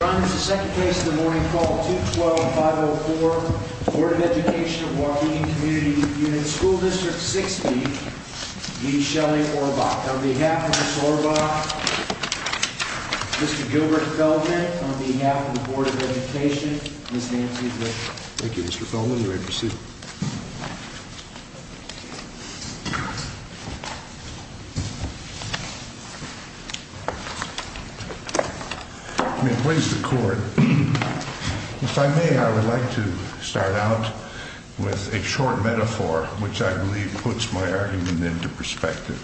Your Honor, the second case of the morning called 212-504 Board of Education of Waukegan Community Unit School District 60 v. Shelley Orbach. On behalf of Ms. Orbach, Mr. Gilbert Feldman, on behalf of the Board of Education, Ms. Nancy Glick. Thank you, Mr. Feldman. You may proceed. If I may, I would like to start out with a short metaphor which I believe puts my argument into perspective.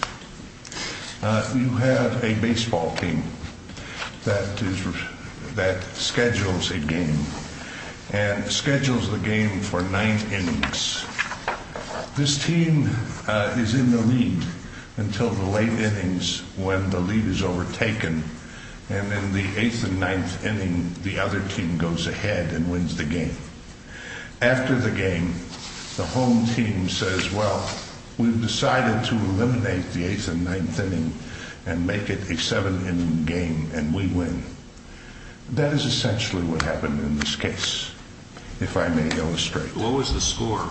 You have a baseball team that schedules a game and schedules the game for 9th innings. This team is in the lead until the late innings when the lead is overtaken. And in the 8th and 9th inning, the other team goes ahead and wins the game. After the game, the home team says, well, we've decided to eliminate the 8th and 9th inning and make it a 7th inning game and we win. That is essentially what happened in this case, if I may illustrate. What was the score?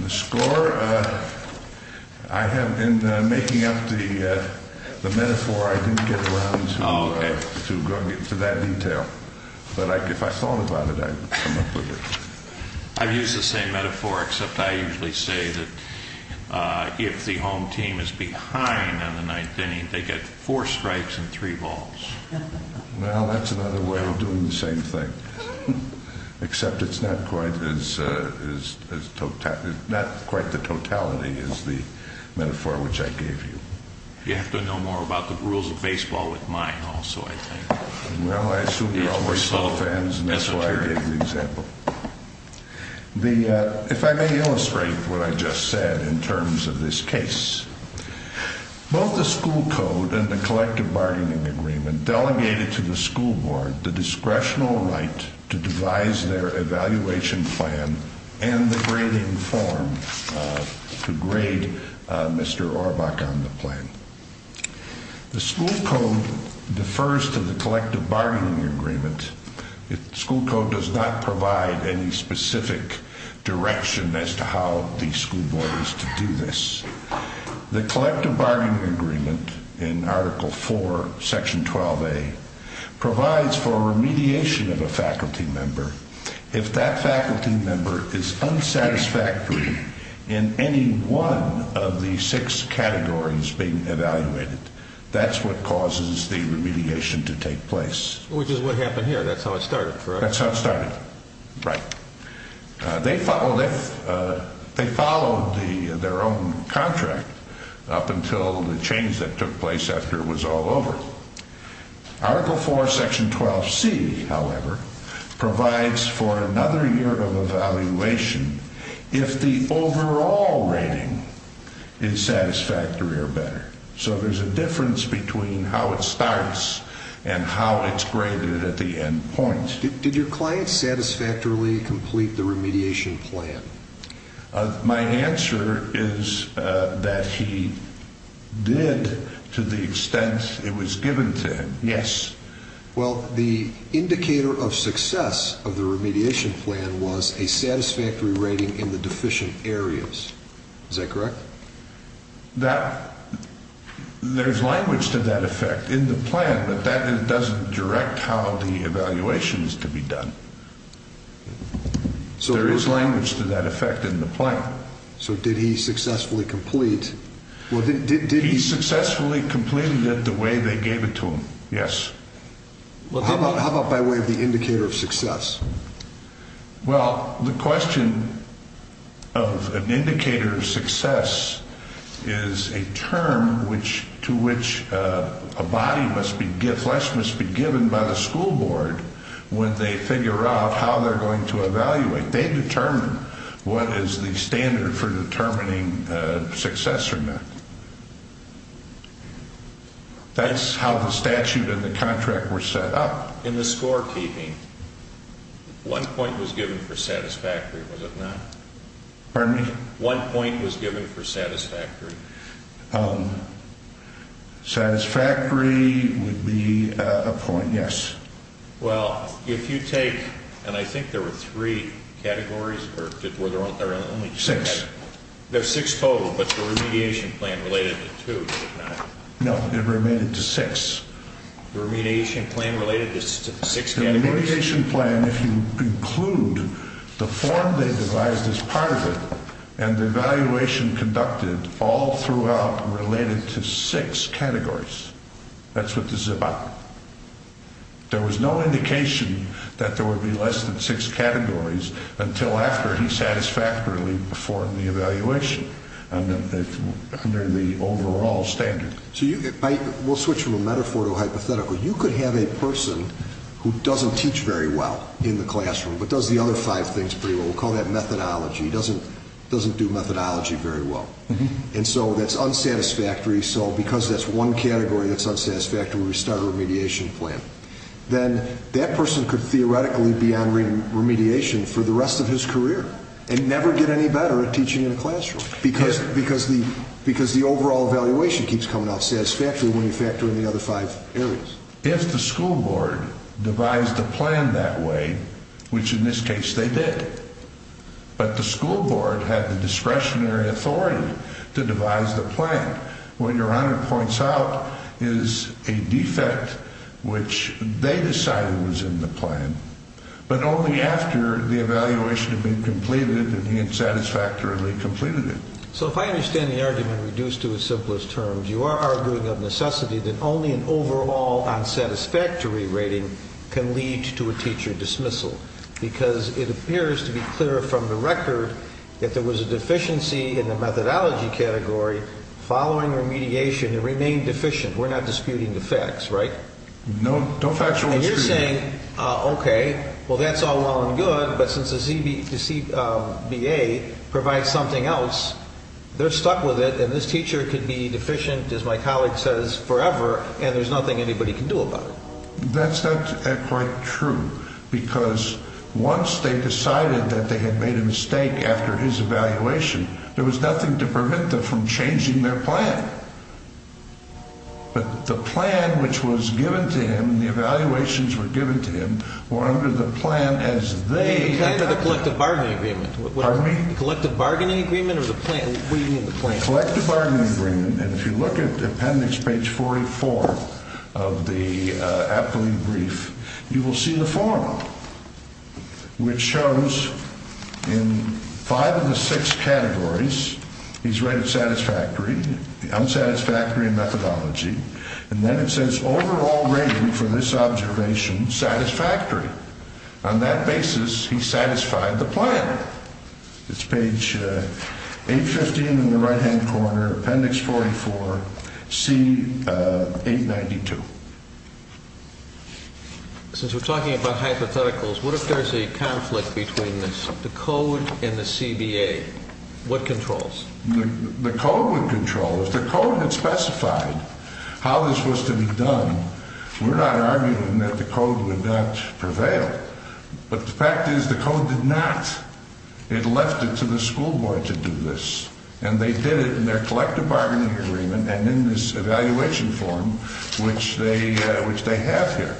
The score, in making up the metaphor, I didn't get around to that detail. But if I thought about it, I'd come up with it. I've used the same metaphor, except I usually say that if the home team is behind on the 9th inning, they get four strikes and three balls. Well, that's another way of doing the same thing, except it's not quite the totality as the metaphor which I gave you. You have to know more about the rules of baseball with mine also, I think. Well, I assume you're all baseball fans and that's why I gave the example. If I may illustrate what I just said in terms of this case. Both the school code and the collective bargaining agreement delegated to the school board the discretional right to devise their evaluation plan and the grading form to grade Mr. Orbach on the plan. The school code defers to the collective bargaining agreement. The school code does not provide any specific direction as to how the school board is to do this. The collective bargaining agreement in Article 4, Section 12A provides for remediation of a faculty member. If that faculty member is unsatisfactory in any one of the six categories being evaluated, that's what causes the remediation to take place. Which is what happened here. That's how it started, correct? That's how it started. Right. They followed their own contract up until the change that took place after it was all over. Article 4, Section 12C, however, provides for another year of evaluation if the overall rating is satisfactory or better. So there's a difference between how it starts and how it's graded at the end point. Did your client satisfactorily complete the remediation plan? My answer is that he did to the extent it was given to him. Yes. Well, the indicator of success of the remediation plan was a satisfactory rating in the deficient areas. Is that correct? There's language to that effect in the plan, but that doesn't direct how the evaluation is to be done. There is language to that effect in the plan. So did he successfully complete? He successfully completed it the way they gave it to him, yes. Well, the question of an indicator of success is a term to which a body must be given by the school board when they figure out how they're going to evaluate. They determine what is the standard for determining success or not. That's how the statute and the contract were set up. In the scorekeeping, one point was given for satisfactory, was it not? Pardon me? One point was given for satisfactory. Satisfactory would be a point, yes. Well, if you take, and I think there were three categories, or were there only two categories? Six. There's six total, but the remediation plan related to two, did it not? No, it related to six. The remediation plan related to six categories? The remediation plan, if you include the form they devised as part of it and the evaluation conducted all throughout related to six categories, that's what this is about. There was no indication that there would be less than six categories until after he satisfactorily performed the evaluation under the overall standard. We'll switch from a metaphor to a hypothetical. You could have a person who doesn't teach very well in the classroom but does the other five things pretty well. We'll call that methodology, doesn't do methodology very well. And so that's unsatisfactory, so because that's one category that's unsatisfactory, we start a remediation plan. Then that person could theoretically be on remediation for the rest of his career and never get any better at teaching in a classroom because the overall evaluation keeps coming off satisfactory when you factor in the other five areas. If the school board devised a plan that way, which in this case they did, but the school board had the discretionary authority to devise the plan, what Your Honor points out is a defect which they decided was in the plan, but only after the evaluation had been completed and he had satisfactorily completed it. So if I understand the argument reduced to its simplest terms, you are arguing of necessity that only an overall unsatisfactory rating can lead to a teacher dismissal because it appears to be clear from the record that there was a deficiency in the methodology category following remediation and remained deficient. We're not disputing the facts, right? No, no factual discrepancy. And you're saying, okay, well that's all well and good, but since the ZBA provides something else, they're stuck with it and this teacher could be deficient, as my colleague says, forever and there's nothing anybody can do about it. That's not quite true because once they decided that they had made a mistake after his evaluation, there was nothing to prevent them from changing their plan. But the plan which was given to him and the evaluations were given to him were under the plan as they... The plan of the collective bargaining agreement. Pardon me? The collective bargaining agreement or the plan? What do you mean the plan? The collective bargaining agreement, and if you look at appendix page 44 of the appellee brief, you will see the form which shows in five of the six categories, he's rated satisfactory, unsatisfactory in methodology, and then it says overall rating for this observation satisfactory. On that basis, he satisfied the plan. It's page 815 in the right-hand corner, appendix 44, C892. Since we're talking about hypotheticals, what if there's a conflict between the code and the CBA? What controls? The code would control. If the code had specified how this was to be done, we're not arguing that the code would not prevail, but the fact is the code did not. It left it to the school board to do this, and they did it in their collective bargaining agreement and in this evaluation form which they have here.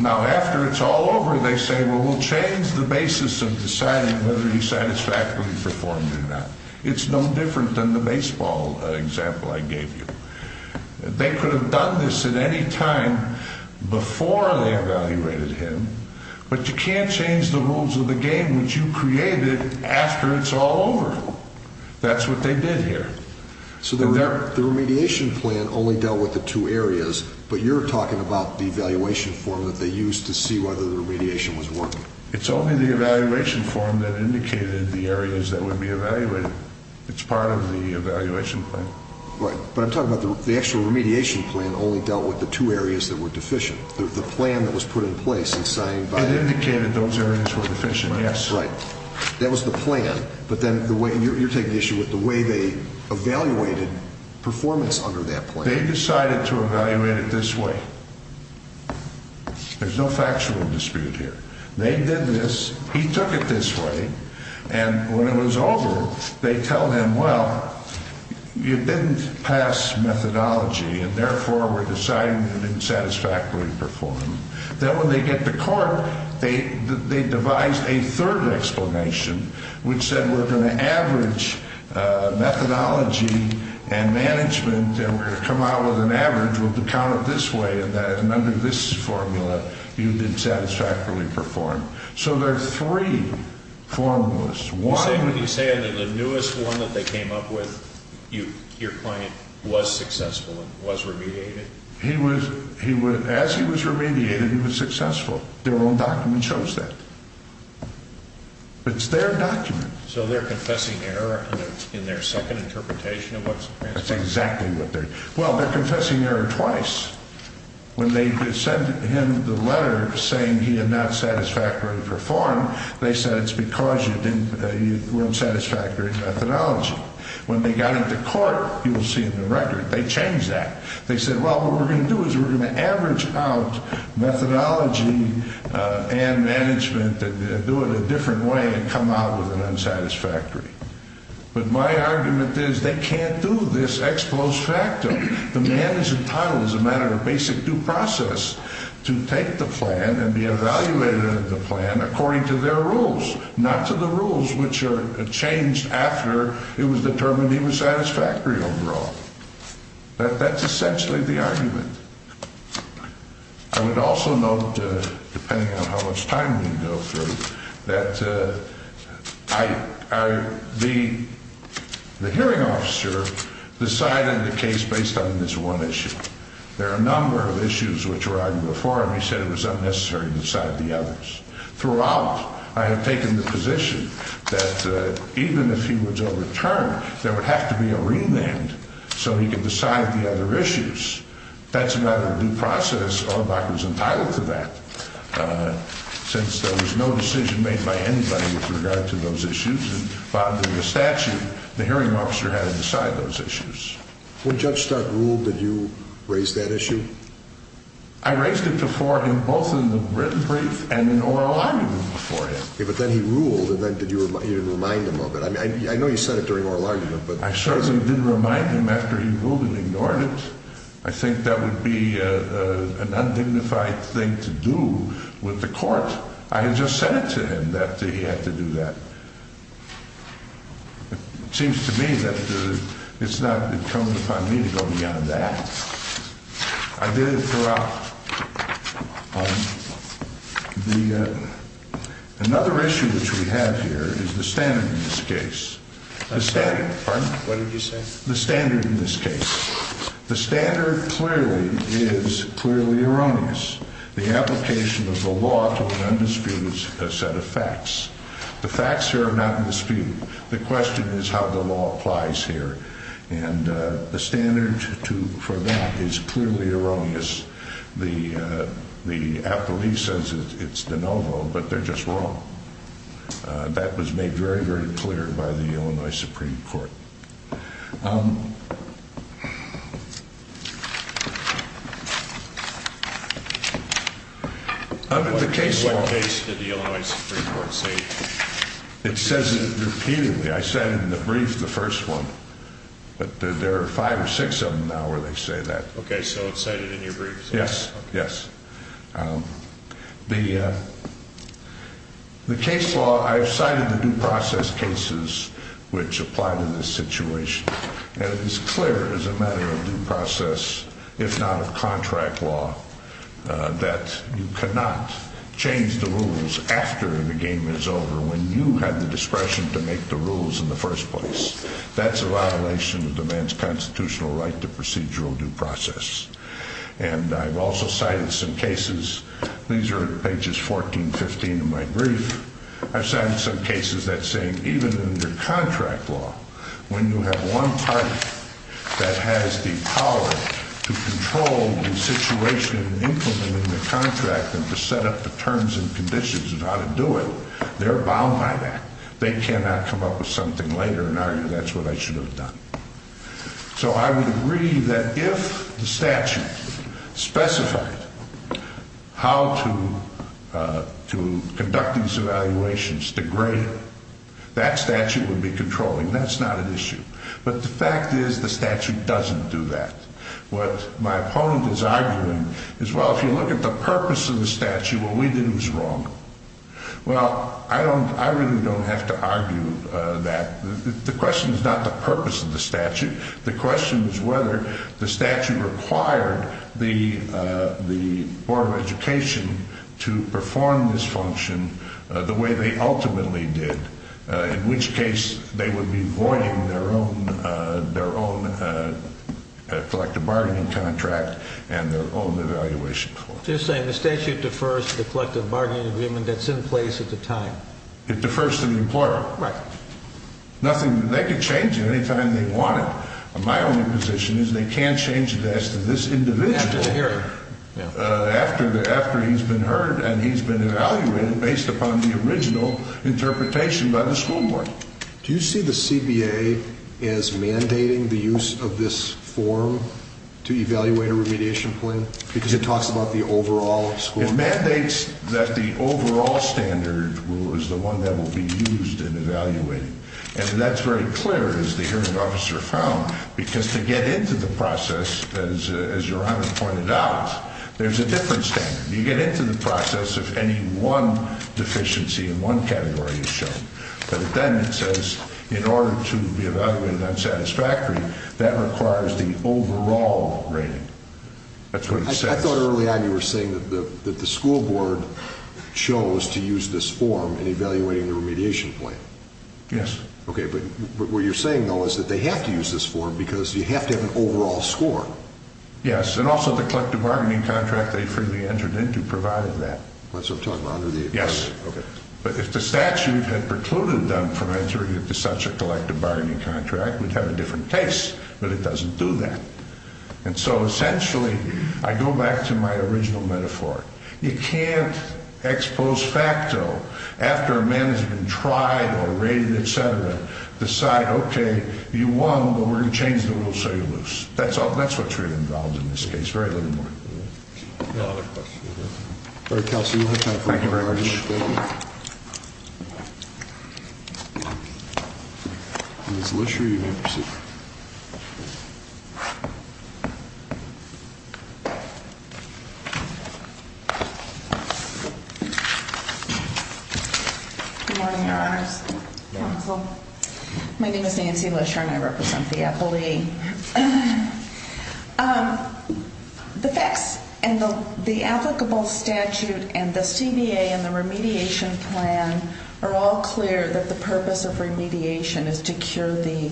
Now, after it's all over, they say, well, we'll change the basis of deciding whether he satisfactorily performed or not. It's no different than the baseball example I gave you. They could have done this at any time before they evaluated him, but you can't change the rules of the game which you created after it's all over. That's what they did here. So the remediation plan only dealt with the two areas, but you're talking about the evaluation form that they used to see whether the remediation was working. It's only the evaluation form that indicated the areas that would be evaluated. It's part of the evaluation plan. Right, but I'm talking about the actual remediation plan only dealt with the two areas that were deficient. The plan that was put in place and signed by... It indicated those areas were deficient, yes. Right. That was the plan, but then you're taking issue with the way they evaluated performance under that plan. They decided to evaluate it this way. There's no factual dispute here. They did this. He took it this way, and when it was over, they tell him, well, you didn't pass methodology, and therefore we're deciding you didn't satisfactorily perform. Then when they get to court, they devised a third explanation, which said we're going to average methodology and management, and we're going to come out with an average. We'll count it this way, and under this formula, you did satisfactorily perform. So there are three formulas. You're saying that the newest one that they came up with, your client was successful and was remediated? As he was remediated, he was successful. Their own document shows that. It's their document. So they're confessing error in their second interpretation of what's transpired? That's exactly what they're doing. Well, they're confessing error twice. When they sent him the letter saying he had not satisfactorily performed, they said it's because you were unsatisfactory in methodology. When they got into court, you'll see in the record, they changed that. They said, well, what we're going to do is we're going to average out methodology and management and do it a different way and come out with an unsatisfactory. But my argument is they can't do this ex post facto. The man is entitled as a matter of basic due process to take the plan and be evaluated in the plan according to their rules, not to the rules which are changed after it was determined he was satisfactory overall. That's essentially the argument. I would also note, depending on how much time we go through, that I, I, the hearing officer decided the case based on this one issue. There are a number of issues which arrived before him. He said it was unnecessary to decide the others. Throughout, I have taken the position that even if he was overturned, there would have to be a remand so he could decide the other issues. That's a matter of due process. I was entitled to that since there was no decision made by anybody with regard to those issues. By the statute, the hearing officer had to decide those issues. When Judge Stark ruled, did you raise that issue? I raised it before him both in the written brief and in oral argument before him. But then he ruled and then did you remind him of it? I mean, I know you said it during oral argument, but I certainly did remind him after he ruled and ignored it. I think that would be an undignified thing to do with the court. I had just said it to him that he had to do that. It seems to me that it's not, it comes upon me to go beyond that. I did it throughout. The, another issue which we have here is the standard in this case. The standard, pardon? What did you say? The standard in this case. The standard clearly is clearly erroneous. The application of the law to an undisputed set of facts. The facts here are not in dispute. The question is how the law applies here. And the standard to, for that is clearly erroneous. The appellee says it's de novo, but they're just wrong. That was made very, very clear by the Illinois Supreme Court. The case law. What case did the Illinois Supreme Court say? It says it repeatedly. I said it in the brief, the first one. But there are five or six of them now where they say that. Okay, so it's cited in your brief? Yes, yes. The case law, I've cited the due process cases which apply to this situation. And it is clear as a matter of due process, if not of contract law, that you cannot change the rules after the game is over when you have the discretion to make the rules in the first place. That's a violation of the man's constitutional right to procedural due process. And I've also cited some cases. These are pages 14, 15 of my brief. I've cited some cases that say even in your contract law, when you have one party that has the power to control the situation in implementing the contract and to set up the terms and conditions of how to do it, they're bound by that. They cannot come up with something later and argue that's what I should have done. So I would agree that if the statute specified how to conduct these evaluations to grade, that statute would be controlling. That's not an issue. But the fact is the statute doesn't do that. What my opponent is arguing is, well, if you look at the purpose of the statute, what we did was wrong. Well, I really don't have to argue that. The question is not the purpose of the statute. The question is whether the statute required the Board of Education to perform this function the way they ultimately did, in which case they would be voiding their own collective bargaining contract and their own evaluation. You're saying the statute defers to the collective bargaining agreement that's in place at the time. It defers to the employer. Right. Nothing, they can change it any time they want it. My only position is they can't change it as to this individual after he's been heard and he's been evaluated based upon the original interpretation by the school board. Do you see the CBA as mandating the use of this form to evaluate a remediation plan? Because it talks about the overall school board. It mandates that the overall standard is the one that will be used in evaluating. And that's very clear, as the hearing officer found, because to get into the process, as Your Honor pointed out, there's a different standard. You get into the process if any one deficiency in one category is shown. But then it says in order to be evaluated unsatisfactory, that requires the overall rating. That's what it says. I thought early on you were saying that the school board chose to use this form in evaluating the remediation plan. Yes. Okay, but what you're saying, though, is that they have to use this form because you have to have an overall score. Yes, and also the collective bargaining contract they freely entered into provided that. That's what I'm talking about, under the agreement. Yes. Okay. But if the statute had precluded them from entering into such a collective bargaining contract, we'd have a different case, but it doesn't do that. And so, essentially, I go back to my original metaphor. You can't ex post facto, after a man has been tried or rated, et cetera, decide, okay, you won, but we're going to change the rules so you're loose. That's what's really involved in this case, very little more. Any other questions? All right, Counselor, you'll have time for one more question. Thank you very much. Ms. Lisher, you may proceed. Thank you. Good morning, Your Honors. Counsel. My name is Nancy Lisher, and I represent the appellee. The facts and the applicable statute and the CBA and the remediation plan are all clear that the purpose of remediation is to cure the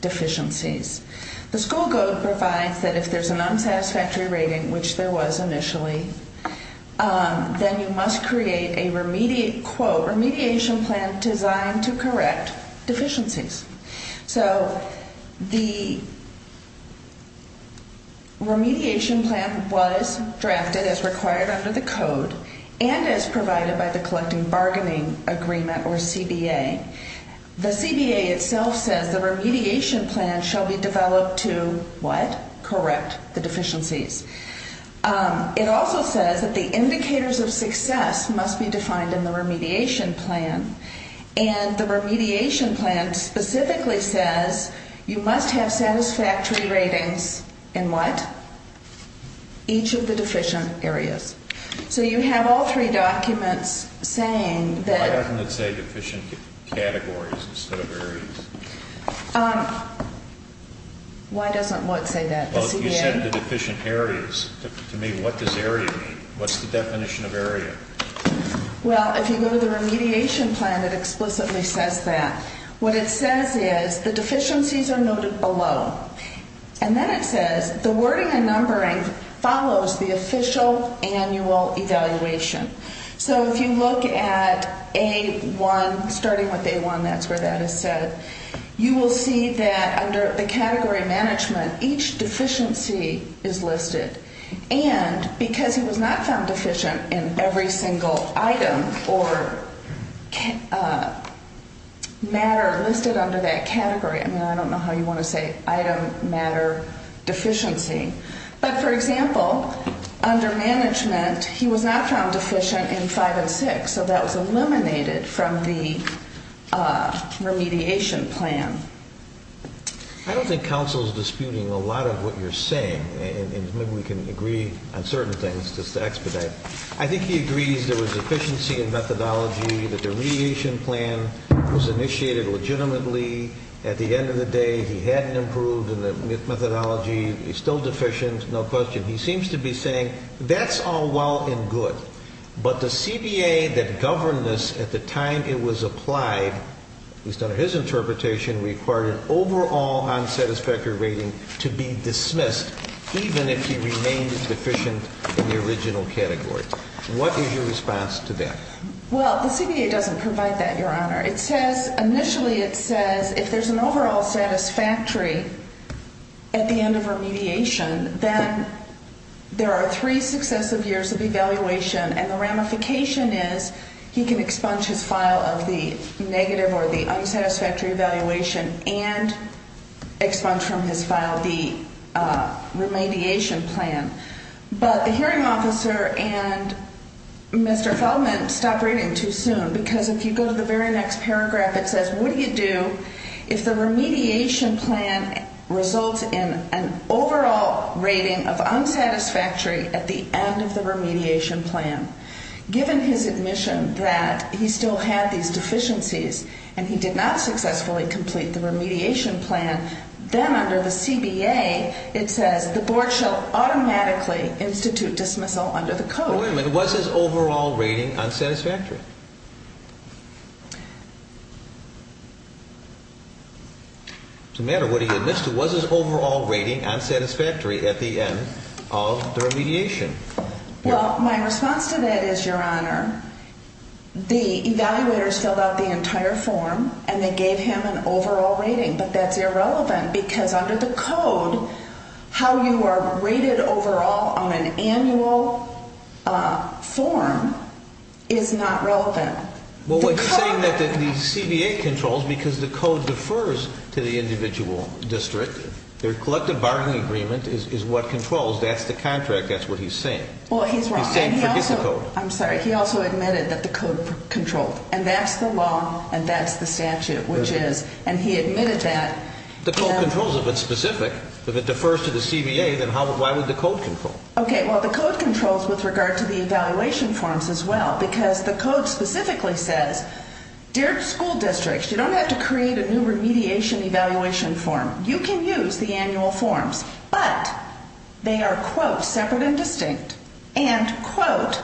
deficiencies. The school code provides that if there's an unsatisfactory rating, which there was initially, then you must create a remediation plan designed to correct deficiencies. So the remediation plan was drafted as required under the code and as provided by the collective bargaining agreement, or CBA. The CBA itself says the remediation plan shall be developed to what? Correct the deficiencies. It also says that the indicators of success must be defined in the remediation plan, and the remediation plan specifically says you must have satisfactory ratings in what? Each of the deficient areas. So you have all three documents saying that. Why doesn't it say deficient categories instead of areas? Why doesn't what say that? The CBA? Well, you said the deficient areas. To me, what does area mean? What's the definition of area? Well, if you go to the remediation plan, it explicitly says that. What it says is the deficiencies are noted below, and then it says the wording and numbering follows the official annual evaluation. So if you look at A1, starting with A1, that's where that is set, you will see that under the category management, each deficiency is listed. And because he was not found deficient in every single item or matter listed under that category, I mean, I don't know how you want to say item, matter, deficiency, but, for example, under management, he was not found deficient in five and six, so that was eliminated from the remediation plan. I don't think counsel is disputing a lot of what you're saying, and maybe we can agree on certain things just to expedite. I think he agrees there was deficiency in methodology, the remediation plan was initiated legitimately. At the end of the day, he hadn't improved in the methodology. He's still deficient, no question. He seems to be saying that's all well and good, but the CBA that governed this at the time it was applied, at least under his interpretation, required an overall unsatisfactory rating to be dismissed, even if he remained deficient in the original category. What is your response to that? Well, the CBA doesn't provide that, Your Honor. It says initially it says if there's an overall satisfactory at the end of remediation, then there are three successive years of evaluation, and the ramification is he can expunge his file of the negative or the unsatisfactory evaluation and expunge from his file the remediation plan. But the hearing officer and Mr. Feldman stopped reading too soon, because if you go to the very next paragraph, it says, what do you do if the remediation plan results in an overall rating of unsatisfactory at the end of the remediation plan? Given his admission that he still had these deficiencies and he did not successfully complete the remediation plan, then under the CBA it says the board shall automatically institute dismissal under the code. Now, wait a minute. Was his overall rating unsatisfactory? No matter what he admits to, was his overall rating unsatisfactory at the end of the remediation? Well, my response to that is, Your Honor, the evaluators filled out the entire form and they gave him an overall rating, but that's irrelevant, because under the code how you are rated overall on an annual form is not relevant. Well, what he's saying is that the CBA controls because the code defers to the individual district. Their collective bargaining agreement is what controls. That's the contract. That's what he's saying. Well, he's wrong. He's saying forget the code. I'm sorry. He also admitted that the code controlled, and that's the law and that's the statute, which is, and he admitted that. The code controls if it's specific. If it defers to the CBA, then why would the code control? Okay. Well, the code controls with regard to the evaluation forms as well, because the code specifically says, Dear School Districts, you don't have to create a new remediation evaluation form. You can use the annual forms, but they are, quote, separate and distinct, and, quote,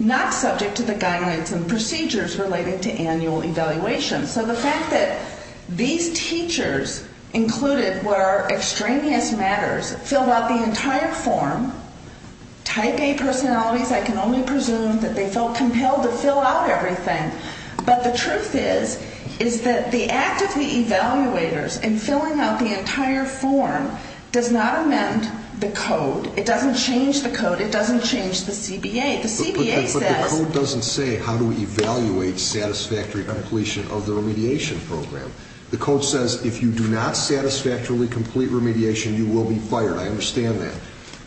not subject to the guidelines and procedures relating to annual evaluation. So the fact that these teachers included where extraneous matters filled out the entire form, type A personalities, I can only presume that they felt compelled to fill out everything, but the truth is is that the act of the evaluators in filling out the entire form does not amend the code. It doesn't change the code. It doesn't change the CBA. But the code doesn't say how to evaluate satisfactory completion of the remediation program. The code says if you do not satisfactorily complete remediation, you will be fired. I understand that.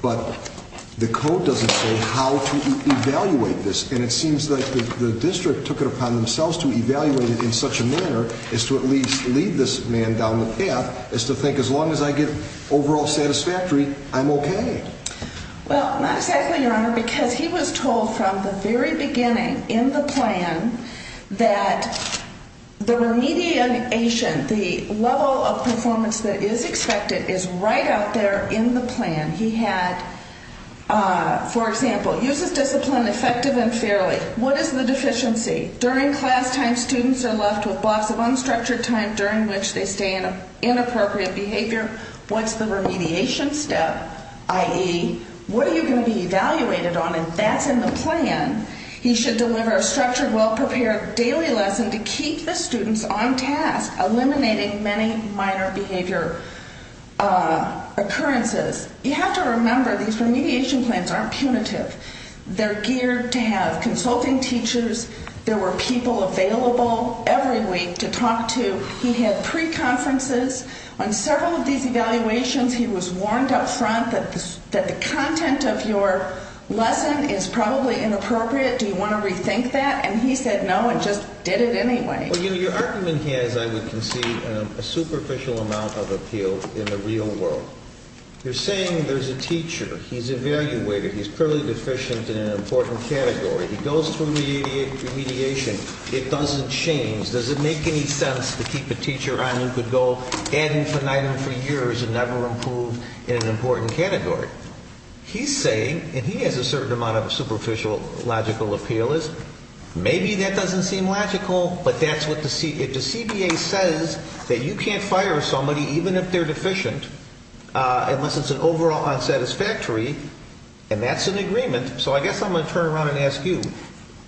But the code doesn't say how to evaluate this, and it seems that the district took it upon themselves to evaluate it in such a manner as to at least lead this man down the path as to think as long as I get overall satisfactory, I'm okay. Well, not exactly, Your Honor, because he was told from the very beginning in the plan that the remediation, the level of performance that is expected is right out there in the plan. He had, for example, uses discipline effective and fairly. What is the deficiency? During class time, students are left with blocks of unstructured time during which they stay in inappropriate behavior. What's the remediation step, i.e., what are you going to be evaluated on? And that's in the plan. He should deliver a structured, well-prepared daily lesson to keep the students on task, eliminating many minor behavior occurrences. You have to remember these remediation plans aren't punitive. They're geared to have consulting teachers. There were people available every week to talk to. He had pre-conferences. On several of these evaluations, he was warned up front that the content of your lesson is probably inappropriate. Do you want to rethink that? And he said no and just did it anyway. Well, your argument here, as I would concede, a superficial amount of appeal in the real world. You're saying there's a teacher. He's evaluated. He's fairly deficient in an important category. He goes through remediation. It doesn't change. Does it make any sense to keep a teacher on who could go at him for night and for years and never improve in an important category? He's saying, and he has a certain amount of a superficial, logical appeal, is maybe that doesn't seem logical, but that's what the CBA says that you can't fire somebody even if they're deficient unless it's an overall unsatisfactory, and that's an agreement. So I guess I'm going to turn around and ask you.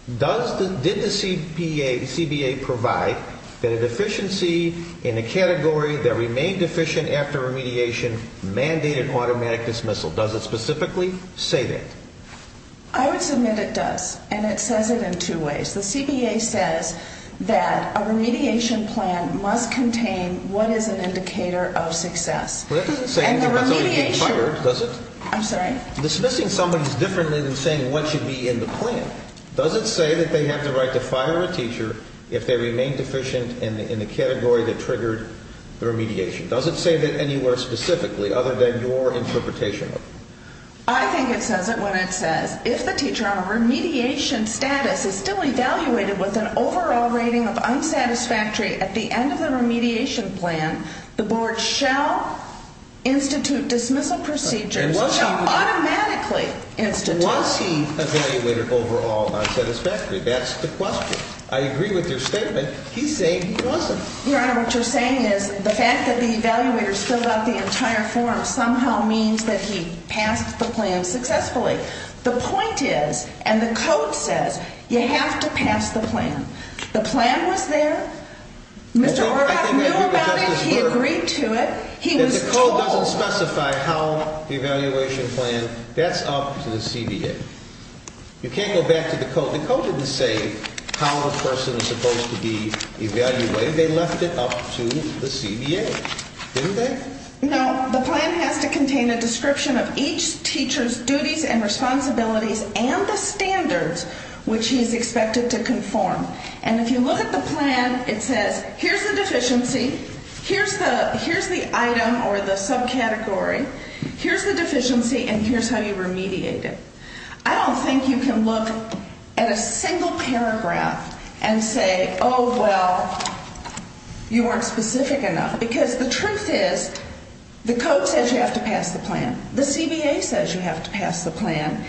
Did the CBA provide that a deficiency in a category that remained deficient after remediation mandated automatic dismissal? Does it specifically say that? I would submit it does, and it says it in two ways. The CBA says that a remediation plan must contain what is an indicator of success. Well, that doesn't say anything about somebody being fired, does it? I'm sorry? Dismissing somebody is different than saying what should be in the plan. Does it say that they have the right to fire a teacher if they remain deficient in the category that triggered the remediation? Does it say that anywhere specifically other than your interpretation? I think it says it when it says, if the teacher on a remediation status is still evaluated with an overall rating of unsatisfactory at the end of the remediation plan, the board shall institute dismissal procedures. It shall automatically institute. Was he evaluated overall unsatisfactory? That's the question. I agree with your statement. He's saying he wasn't. Your Honor, what you're saying is the fact that the evaluator spilled out the entire form somehow means that he passed the plan successfully. The point is, and the code says, you have to pass the plan. The plan was there. Mr. Orbach knew about it. He agreed to it. He was told. If the code doesn't specify how the evaluation plan, that's up to the CBA. You can't go back to the code. The code didn't say how the person is supposed to be evaluated. They left it up to the CBA, didn't they? No. The plan has to contain a description of each teacher's duties and responsibilities and the standards which he is expected to conform. And if you look at the plan, it says, here's the deficiency, here's the item or the subcategory, here's the deficiency, and here's how you remediate it. I don't think you can look at a single paragraph and say, oh, well, you weren't specific enough. Because the truth is, the code says you have to pass the plan. The CBA says you have to pass the plan.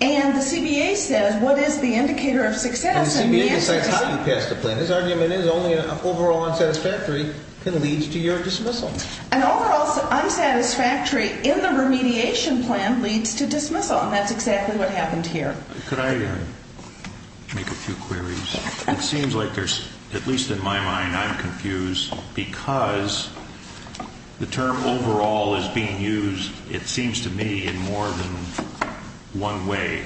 And the CBA says, what is the indicator of success? And the CBA decides how you pass the plan. His argument is only an overall unsatisfactory can lead to your dismissal. An overall unsatisfactory in the remediation plan leads to dismissal, and that's exactly what happened here. Could I make a few queries? It seems like there's, at least in my mind, I'm confused because the term overall is being used, it seems to me, in more than one way.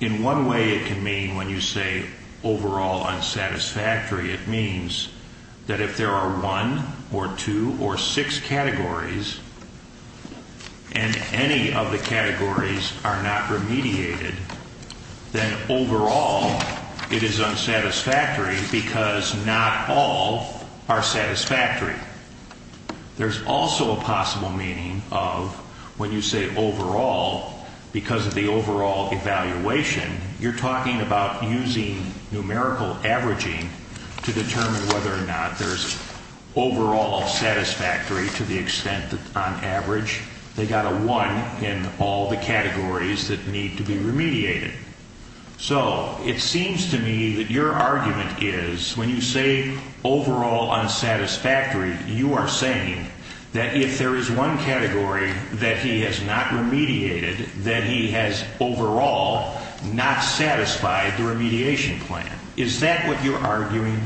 In one way it can mean, when you say overall unsatisfactory, it means that if there are one or two or six categories and any of the categories are not remediated, then overall it is unsatisfactory because not all are satisfactory. There's also a possible meaning of, when you say overall, because of the overall evaluation, you're talking about using numerical averaging to determine whether or not there's overall unsatisfactory to the extent that, on average, they got a one in all the categories that need to be remediated. So it seems to me that your argument is, when you say overall unsatisfactory, you are saying that if there is one category that he has not remediated, that he has overall not satisfied the remediation plan. Is that what you're arguing?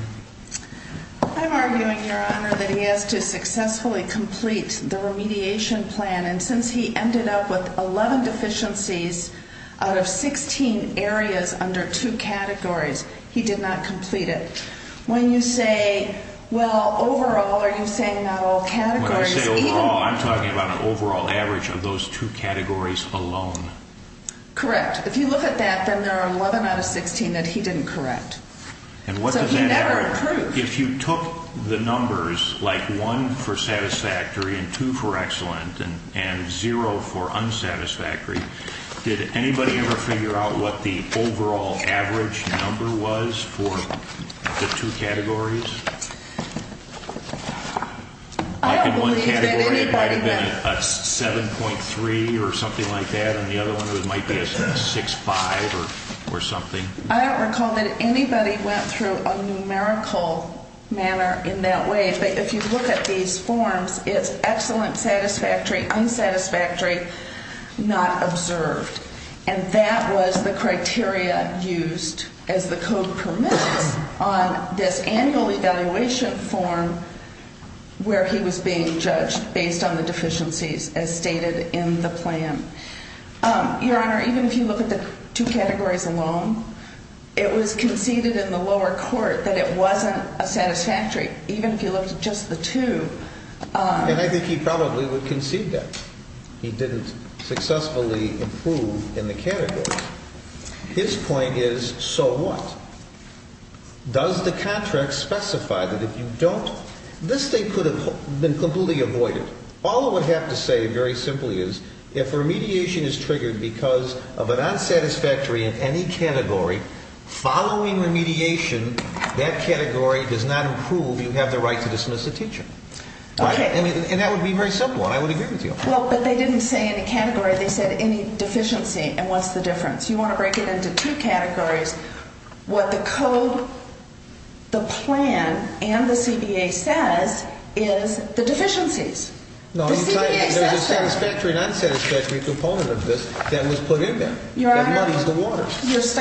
I'm arguing, Your Honor, that he has to successfully complete the remediation plan, and since he ended up with 11 deficiencies out of 16 areas under two categories, he did not complete it. When you say, well, overall, are you saying not all categories? When I say overall, I'm talking about an overall average of those two categories alone. Correct. If you look at that, then there are 11 out of 16 that he didn't correct. And what does that mean? So he never improved. If you took the numbers, like one for satisfactory and two for excellent and zero for unsatisfactory, did anybody ever figure out what the overall average number was for the two categories? I don't believe that anybody did. Like in one category, it might have been a 7.3 or something like that, and the other one might be a 6.5 or something. I don't recall that anybody went through a numerical manner in that way, but if you look at these forms, it's excellent satisfactory, unsatisfactory, not observed. And that was the criteria used as the code permits on this annual evaluation form where he was being judged based on the deficiencies as stated in the plan. Your Honor, even if you look at the two categories alone, it was conceded in the lower court that it wasn't a satisfactory, even if you looked at just the two. And I think he probably would concede that. He didn't successfully improve in the categories. His point is, so what? Does the contract specify that if you don't – this thing could have been completely avoided. All it would have to say, very simply, is if remediation is triggered because of an unsatisfactory in any category, following remediation, that category does not improve. You have the right to dismiss the teacher. Okay. And that would be very simple, and I would agree with you. Well, but they didn't say any category. They said any deficiency, and what's the difference? You want to break it into two categories. What the code, the plan, and the CBA says is the deficiencies. No. The CBA says that. There's a satisfactory and unsatisfactory component of this that was put in there. Your Honor. That muddies the waters.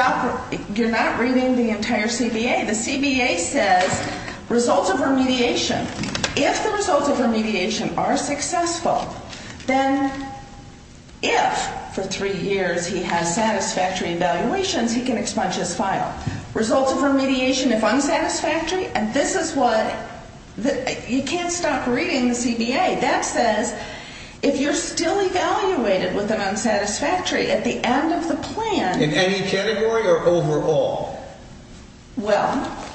You're not reading the entire CBA. The CBA says results of remediation. If the results of remediation are successful, then if for three years he has satisfactory evaluations, he can expunge his file. Results of remediation if unsatisfactory, and this is what – you can't stop reading the CBA. That says if you're still evaluated with an unsatisfactory at the end of the plan – In any category or overall? Well –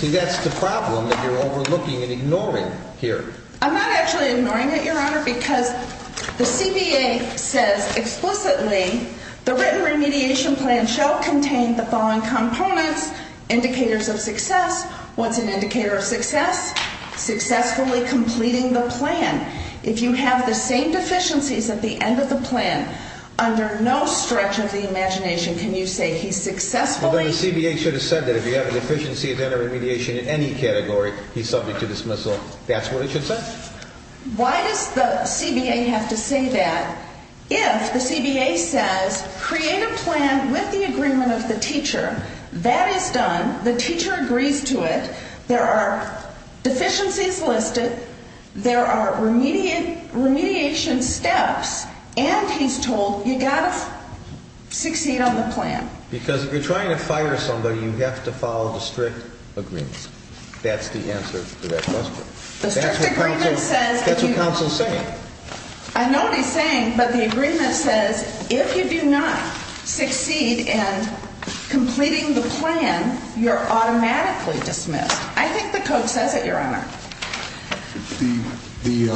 See, that's the problem that you're overlooking and ignoring here. I'm not actually ignoring it, Your Honor, because the CBA says explicitly, the written remediation plan shall contain the following components, indicators of success. What's an indicator of success? Successfully completing the plan. If you have the same deficiencies at the end of the plan, under no stretch of the imagination can you say he successfully – He's subject to dismissal. That's what it should say. Why does the CBA have to say that if the CBA says create a plan with the agreement of the teacher? That is done. The teacher agrees to it. There are deficiencies listed. There are remediation steps, and he's told you've got to succeed on the plan. Because if you're trying to fire somebody, you have to follow the strict agreement. That's the answer to that question. The strict agreement says – That's what counsel's saying. I know what he's saying, but the agreement says if you do not succeed in completing the plan, you're automatically dismissed. I think the code says it, Your Honor. The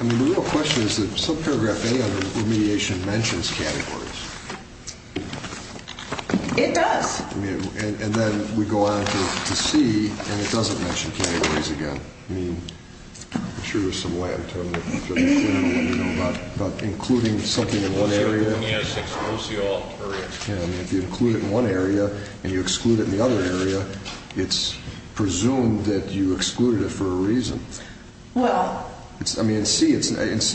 real question is that subparagraph A under remediation mentions categories. It does. And then we go on to C, and it doesn't mention categories again. I'm sure there's some way I can tell you. But including something in one area – If you include it in one area and you exclude it in the other area, it's presumed that you excluded it for a reason. Well – In C,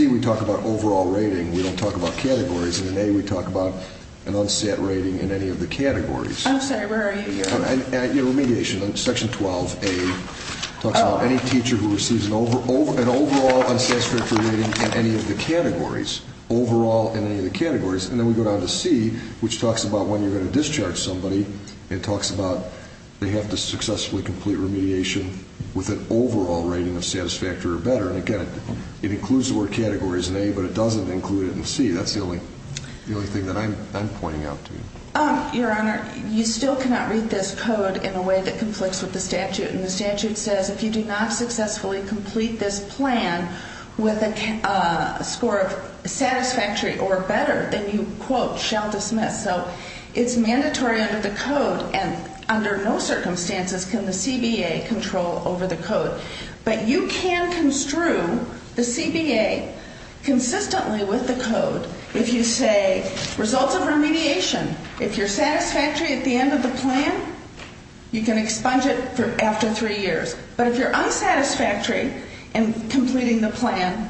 we talk about overall rating. We don't talk about categories. In A, we talk about an unsat rating in any of the categories. I'm sorry, where are you, Your Honor? In remediation, section 12A talks about any teacher who receives an overall unsatisfactory rating in any of the categories. Overall in any of the categories. And then we go down to C, which talks about when you're going to discharge somebody. It talks about they have to successfully complete remediation with an overall rating of satisfactory or better. And, again, it includes the word categories in A, but it doesn't include it in C. That's the only thing that I'm pointing out to you. Your Honor, you still cannot read this code in a way that conflicts with the statute. And the statute says if you do not successfully complete this plan with a score of satisfactory or better, then you, quote, shall dismiss. So it's mandatory under the code, and under no circumstances can the CBA control over the code. But you can construe the CBA consistently with the code if you say results of remediation. If you're satisfactory at the end of the plan, you can expunge it after three years. But if you're unsatisfactory in completing the plan,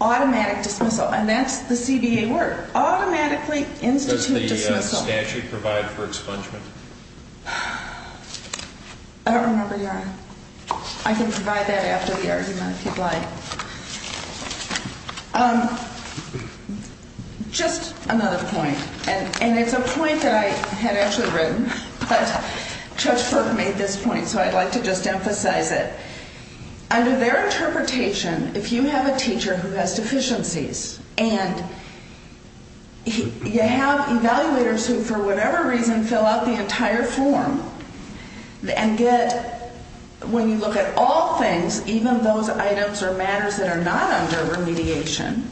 automatic dismissal. And that's the CBA word, automatically institute dismissal. Does the statute provide for expungement? I don't remember, Your Honor. I can provide that after the argument, if you'd like. Just another point, and it's a point that I had actually written. But Judge Burke made this point, so I'd like to just emphasize it. Under their interpretation, if you have a teacher who has deficiencies and you have evaluators who, for whatever reason, fill out the entire form and get, when you look at all things, even those items or matters that are not under remediation,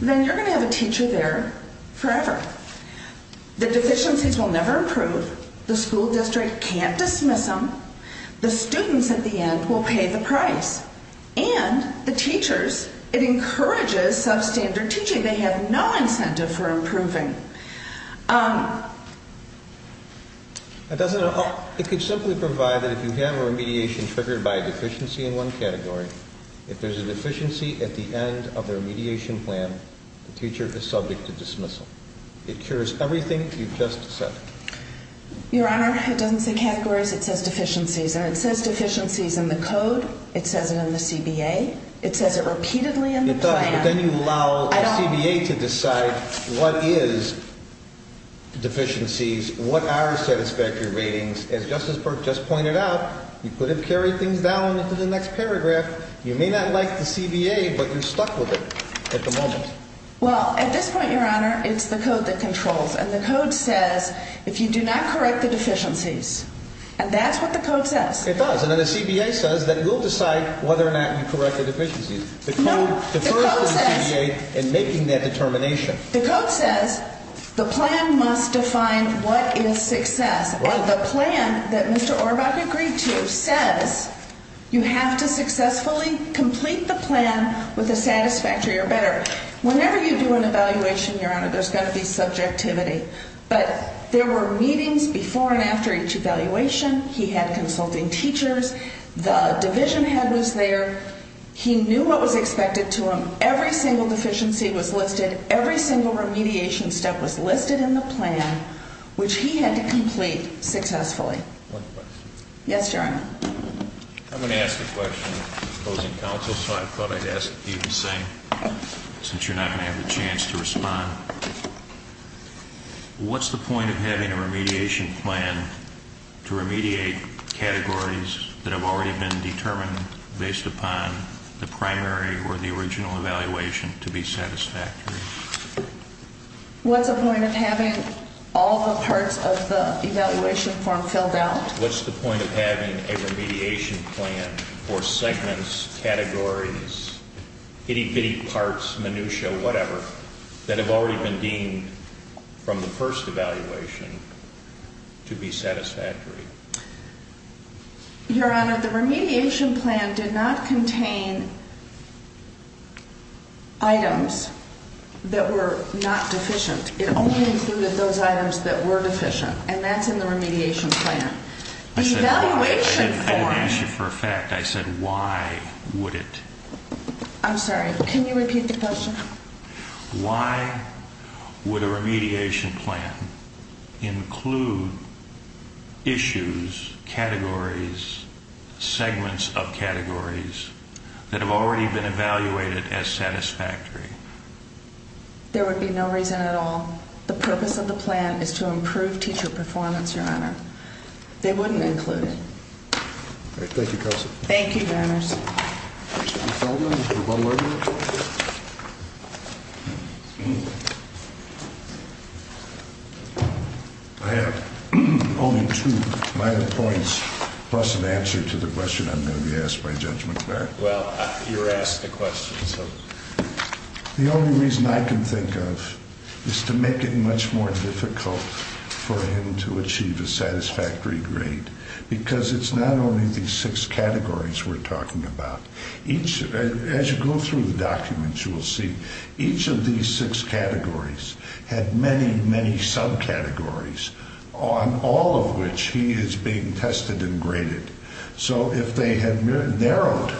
then you're going to have a teacher there forever. The deficiencies will never improve. The school district can't dismiss them. The students at the end will pay the price. And the teachers, it encourages substandard teaching. They have no incentive for improving. It could simply provide that if you have a remediation triggered by a deficiency in one category, if there's a deficiency at the end of the remediation plan, the teacher is subject to dismissal. It cures everything you've just said. Your Honor, it doesn't say categories. It says deficiencies. And it says deficiencies in the code. It says it in the CBA. It says it repeatedly in the plan. It does, but then you allow the CBA to decide what is deficiencies, what are satisfactory ratings. As Justice Burke just pointed out, you could have carried things down into the next paragraph. You may not like the CBA, but you're stuck with it at the moment. Well, at this point, Your Honor, it's the code that controls. And the code says if you do not correct the deficiencies. And that's what the code says. It does. And then the CBA says that it will decide whether or not you correct the deficiencies. The code defers to the CBA in making that determination. The code says the plan must define what is success. And the plan that Mr. Orbach agreed to says you have to successfully complete the plan with a satisfactory or better. Whenever you do an evaluation, Your Honor, there's going to be subjectivity. But there were meetings before and after each evaluation. He had consulting teachers. The division head was there. He knew what was expected to him. Every single deficiency was listed. Every single remediation step was listed in the plan, which he had to complete successfully. Yes, Your Honor. I'm going to ask a question, opposing counsel. So I thought I'd ask if you could say, since you're not going to have the chance to respond. What's the point of having a remediation plan to remediate categories that have already been determined based upon the primary or the original evaluation to be satisfactory? What's the point of having all the parts of the evaluation form filled out? What's the point of having a remediation plan for segments, categories, itty-bitty parts, minutia, whatever, that have already been deemed from the first evaluation to be satisfactory? Your Honor, the remediation plan did not contain items that were not deficient. It only included those items that were deficient. And that's in the remediation plan. I didn't ask you for a fact. I said, why would it? I'm sorry. Can you repeat the question? Why would a remediation plan include issues, categories, segments of categories that have already been evaluated as satisfactory? There would be no reason at all. The purpose of the plan is to improve teacher performance, Your Honor. They wouldn't include it. All right. Thank you, Counselor. Thank you, Your Honors. Mr. Feldman, Rebuttal Order. I have only two minor points plus an answer to the question I'm going to be asked by Judge McBarry. Well, you were asked a question, so. The only reason I can think of is to make it much more difficult for him to achieve a satisfactory grade because it's not only these six categories we're talking about. As you go through the documents, you will see each of these six categories had many, many subcategories on all of which he is being tested and graded. So if they had narrowed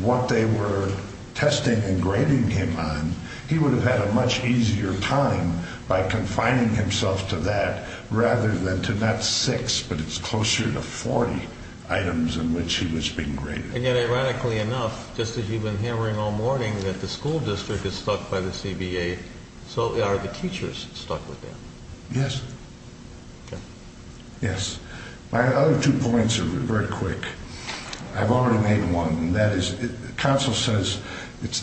what they were testing and grading him on, he would have had a much easier time by confining himself to that rather than to not six, but it's closer to 40 items in which he was being graded. And yet, ironically enough, just as you've been hammering all morning that the school district is stuck by the CBA, so are the teachers stuck with that? Yes. Okay. Yes. My other two points are very quick. I've already made one, and that is counsel says it's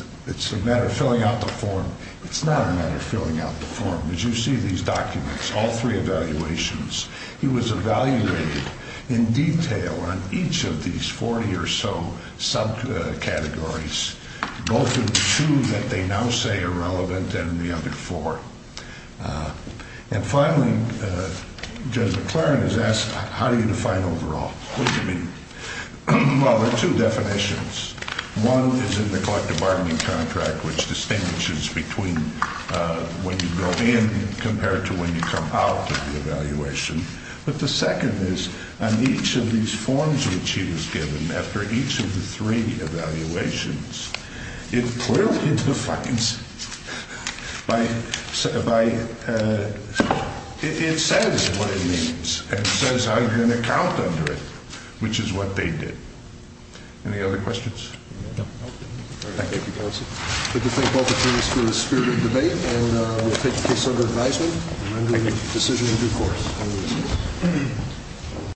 a matter of filling out the form. It's not a matter of filling out the form. As you see in these documents, all three evaluations, he was evaluated in detail on each of these 40 or so subcategories, both of the two that they now say are relevant and the other four. And finally, Judge McLaren has asked, how do you define overall? What do you mean? Well, there are two definitions. One is in the collective bargaining contract, which distinguishes between when you go in compared to when you come out of the evaluation. But the second is on each of these forms which he was given after each of the three evaluations, it says what it means and says how you're going to count under it, which is what they did. Any other questions? No. Okay. Thank you, counsel. Thank you both attorneys for the spirit of the debate, and we'll take the case under advisement and make a decision in due course.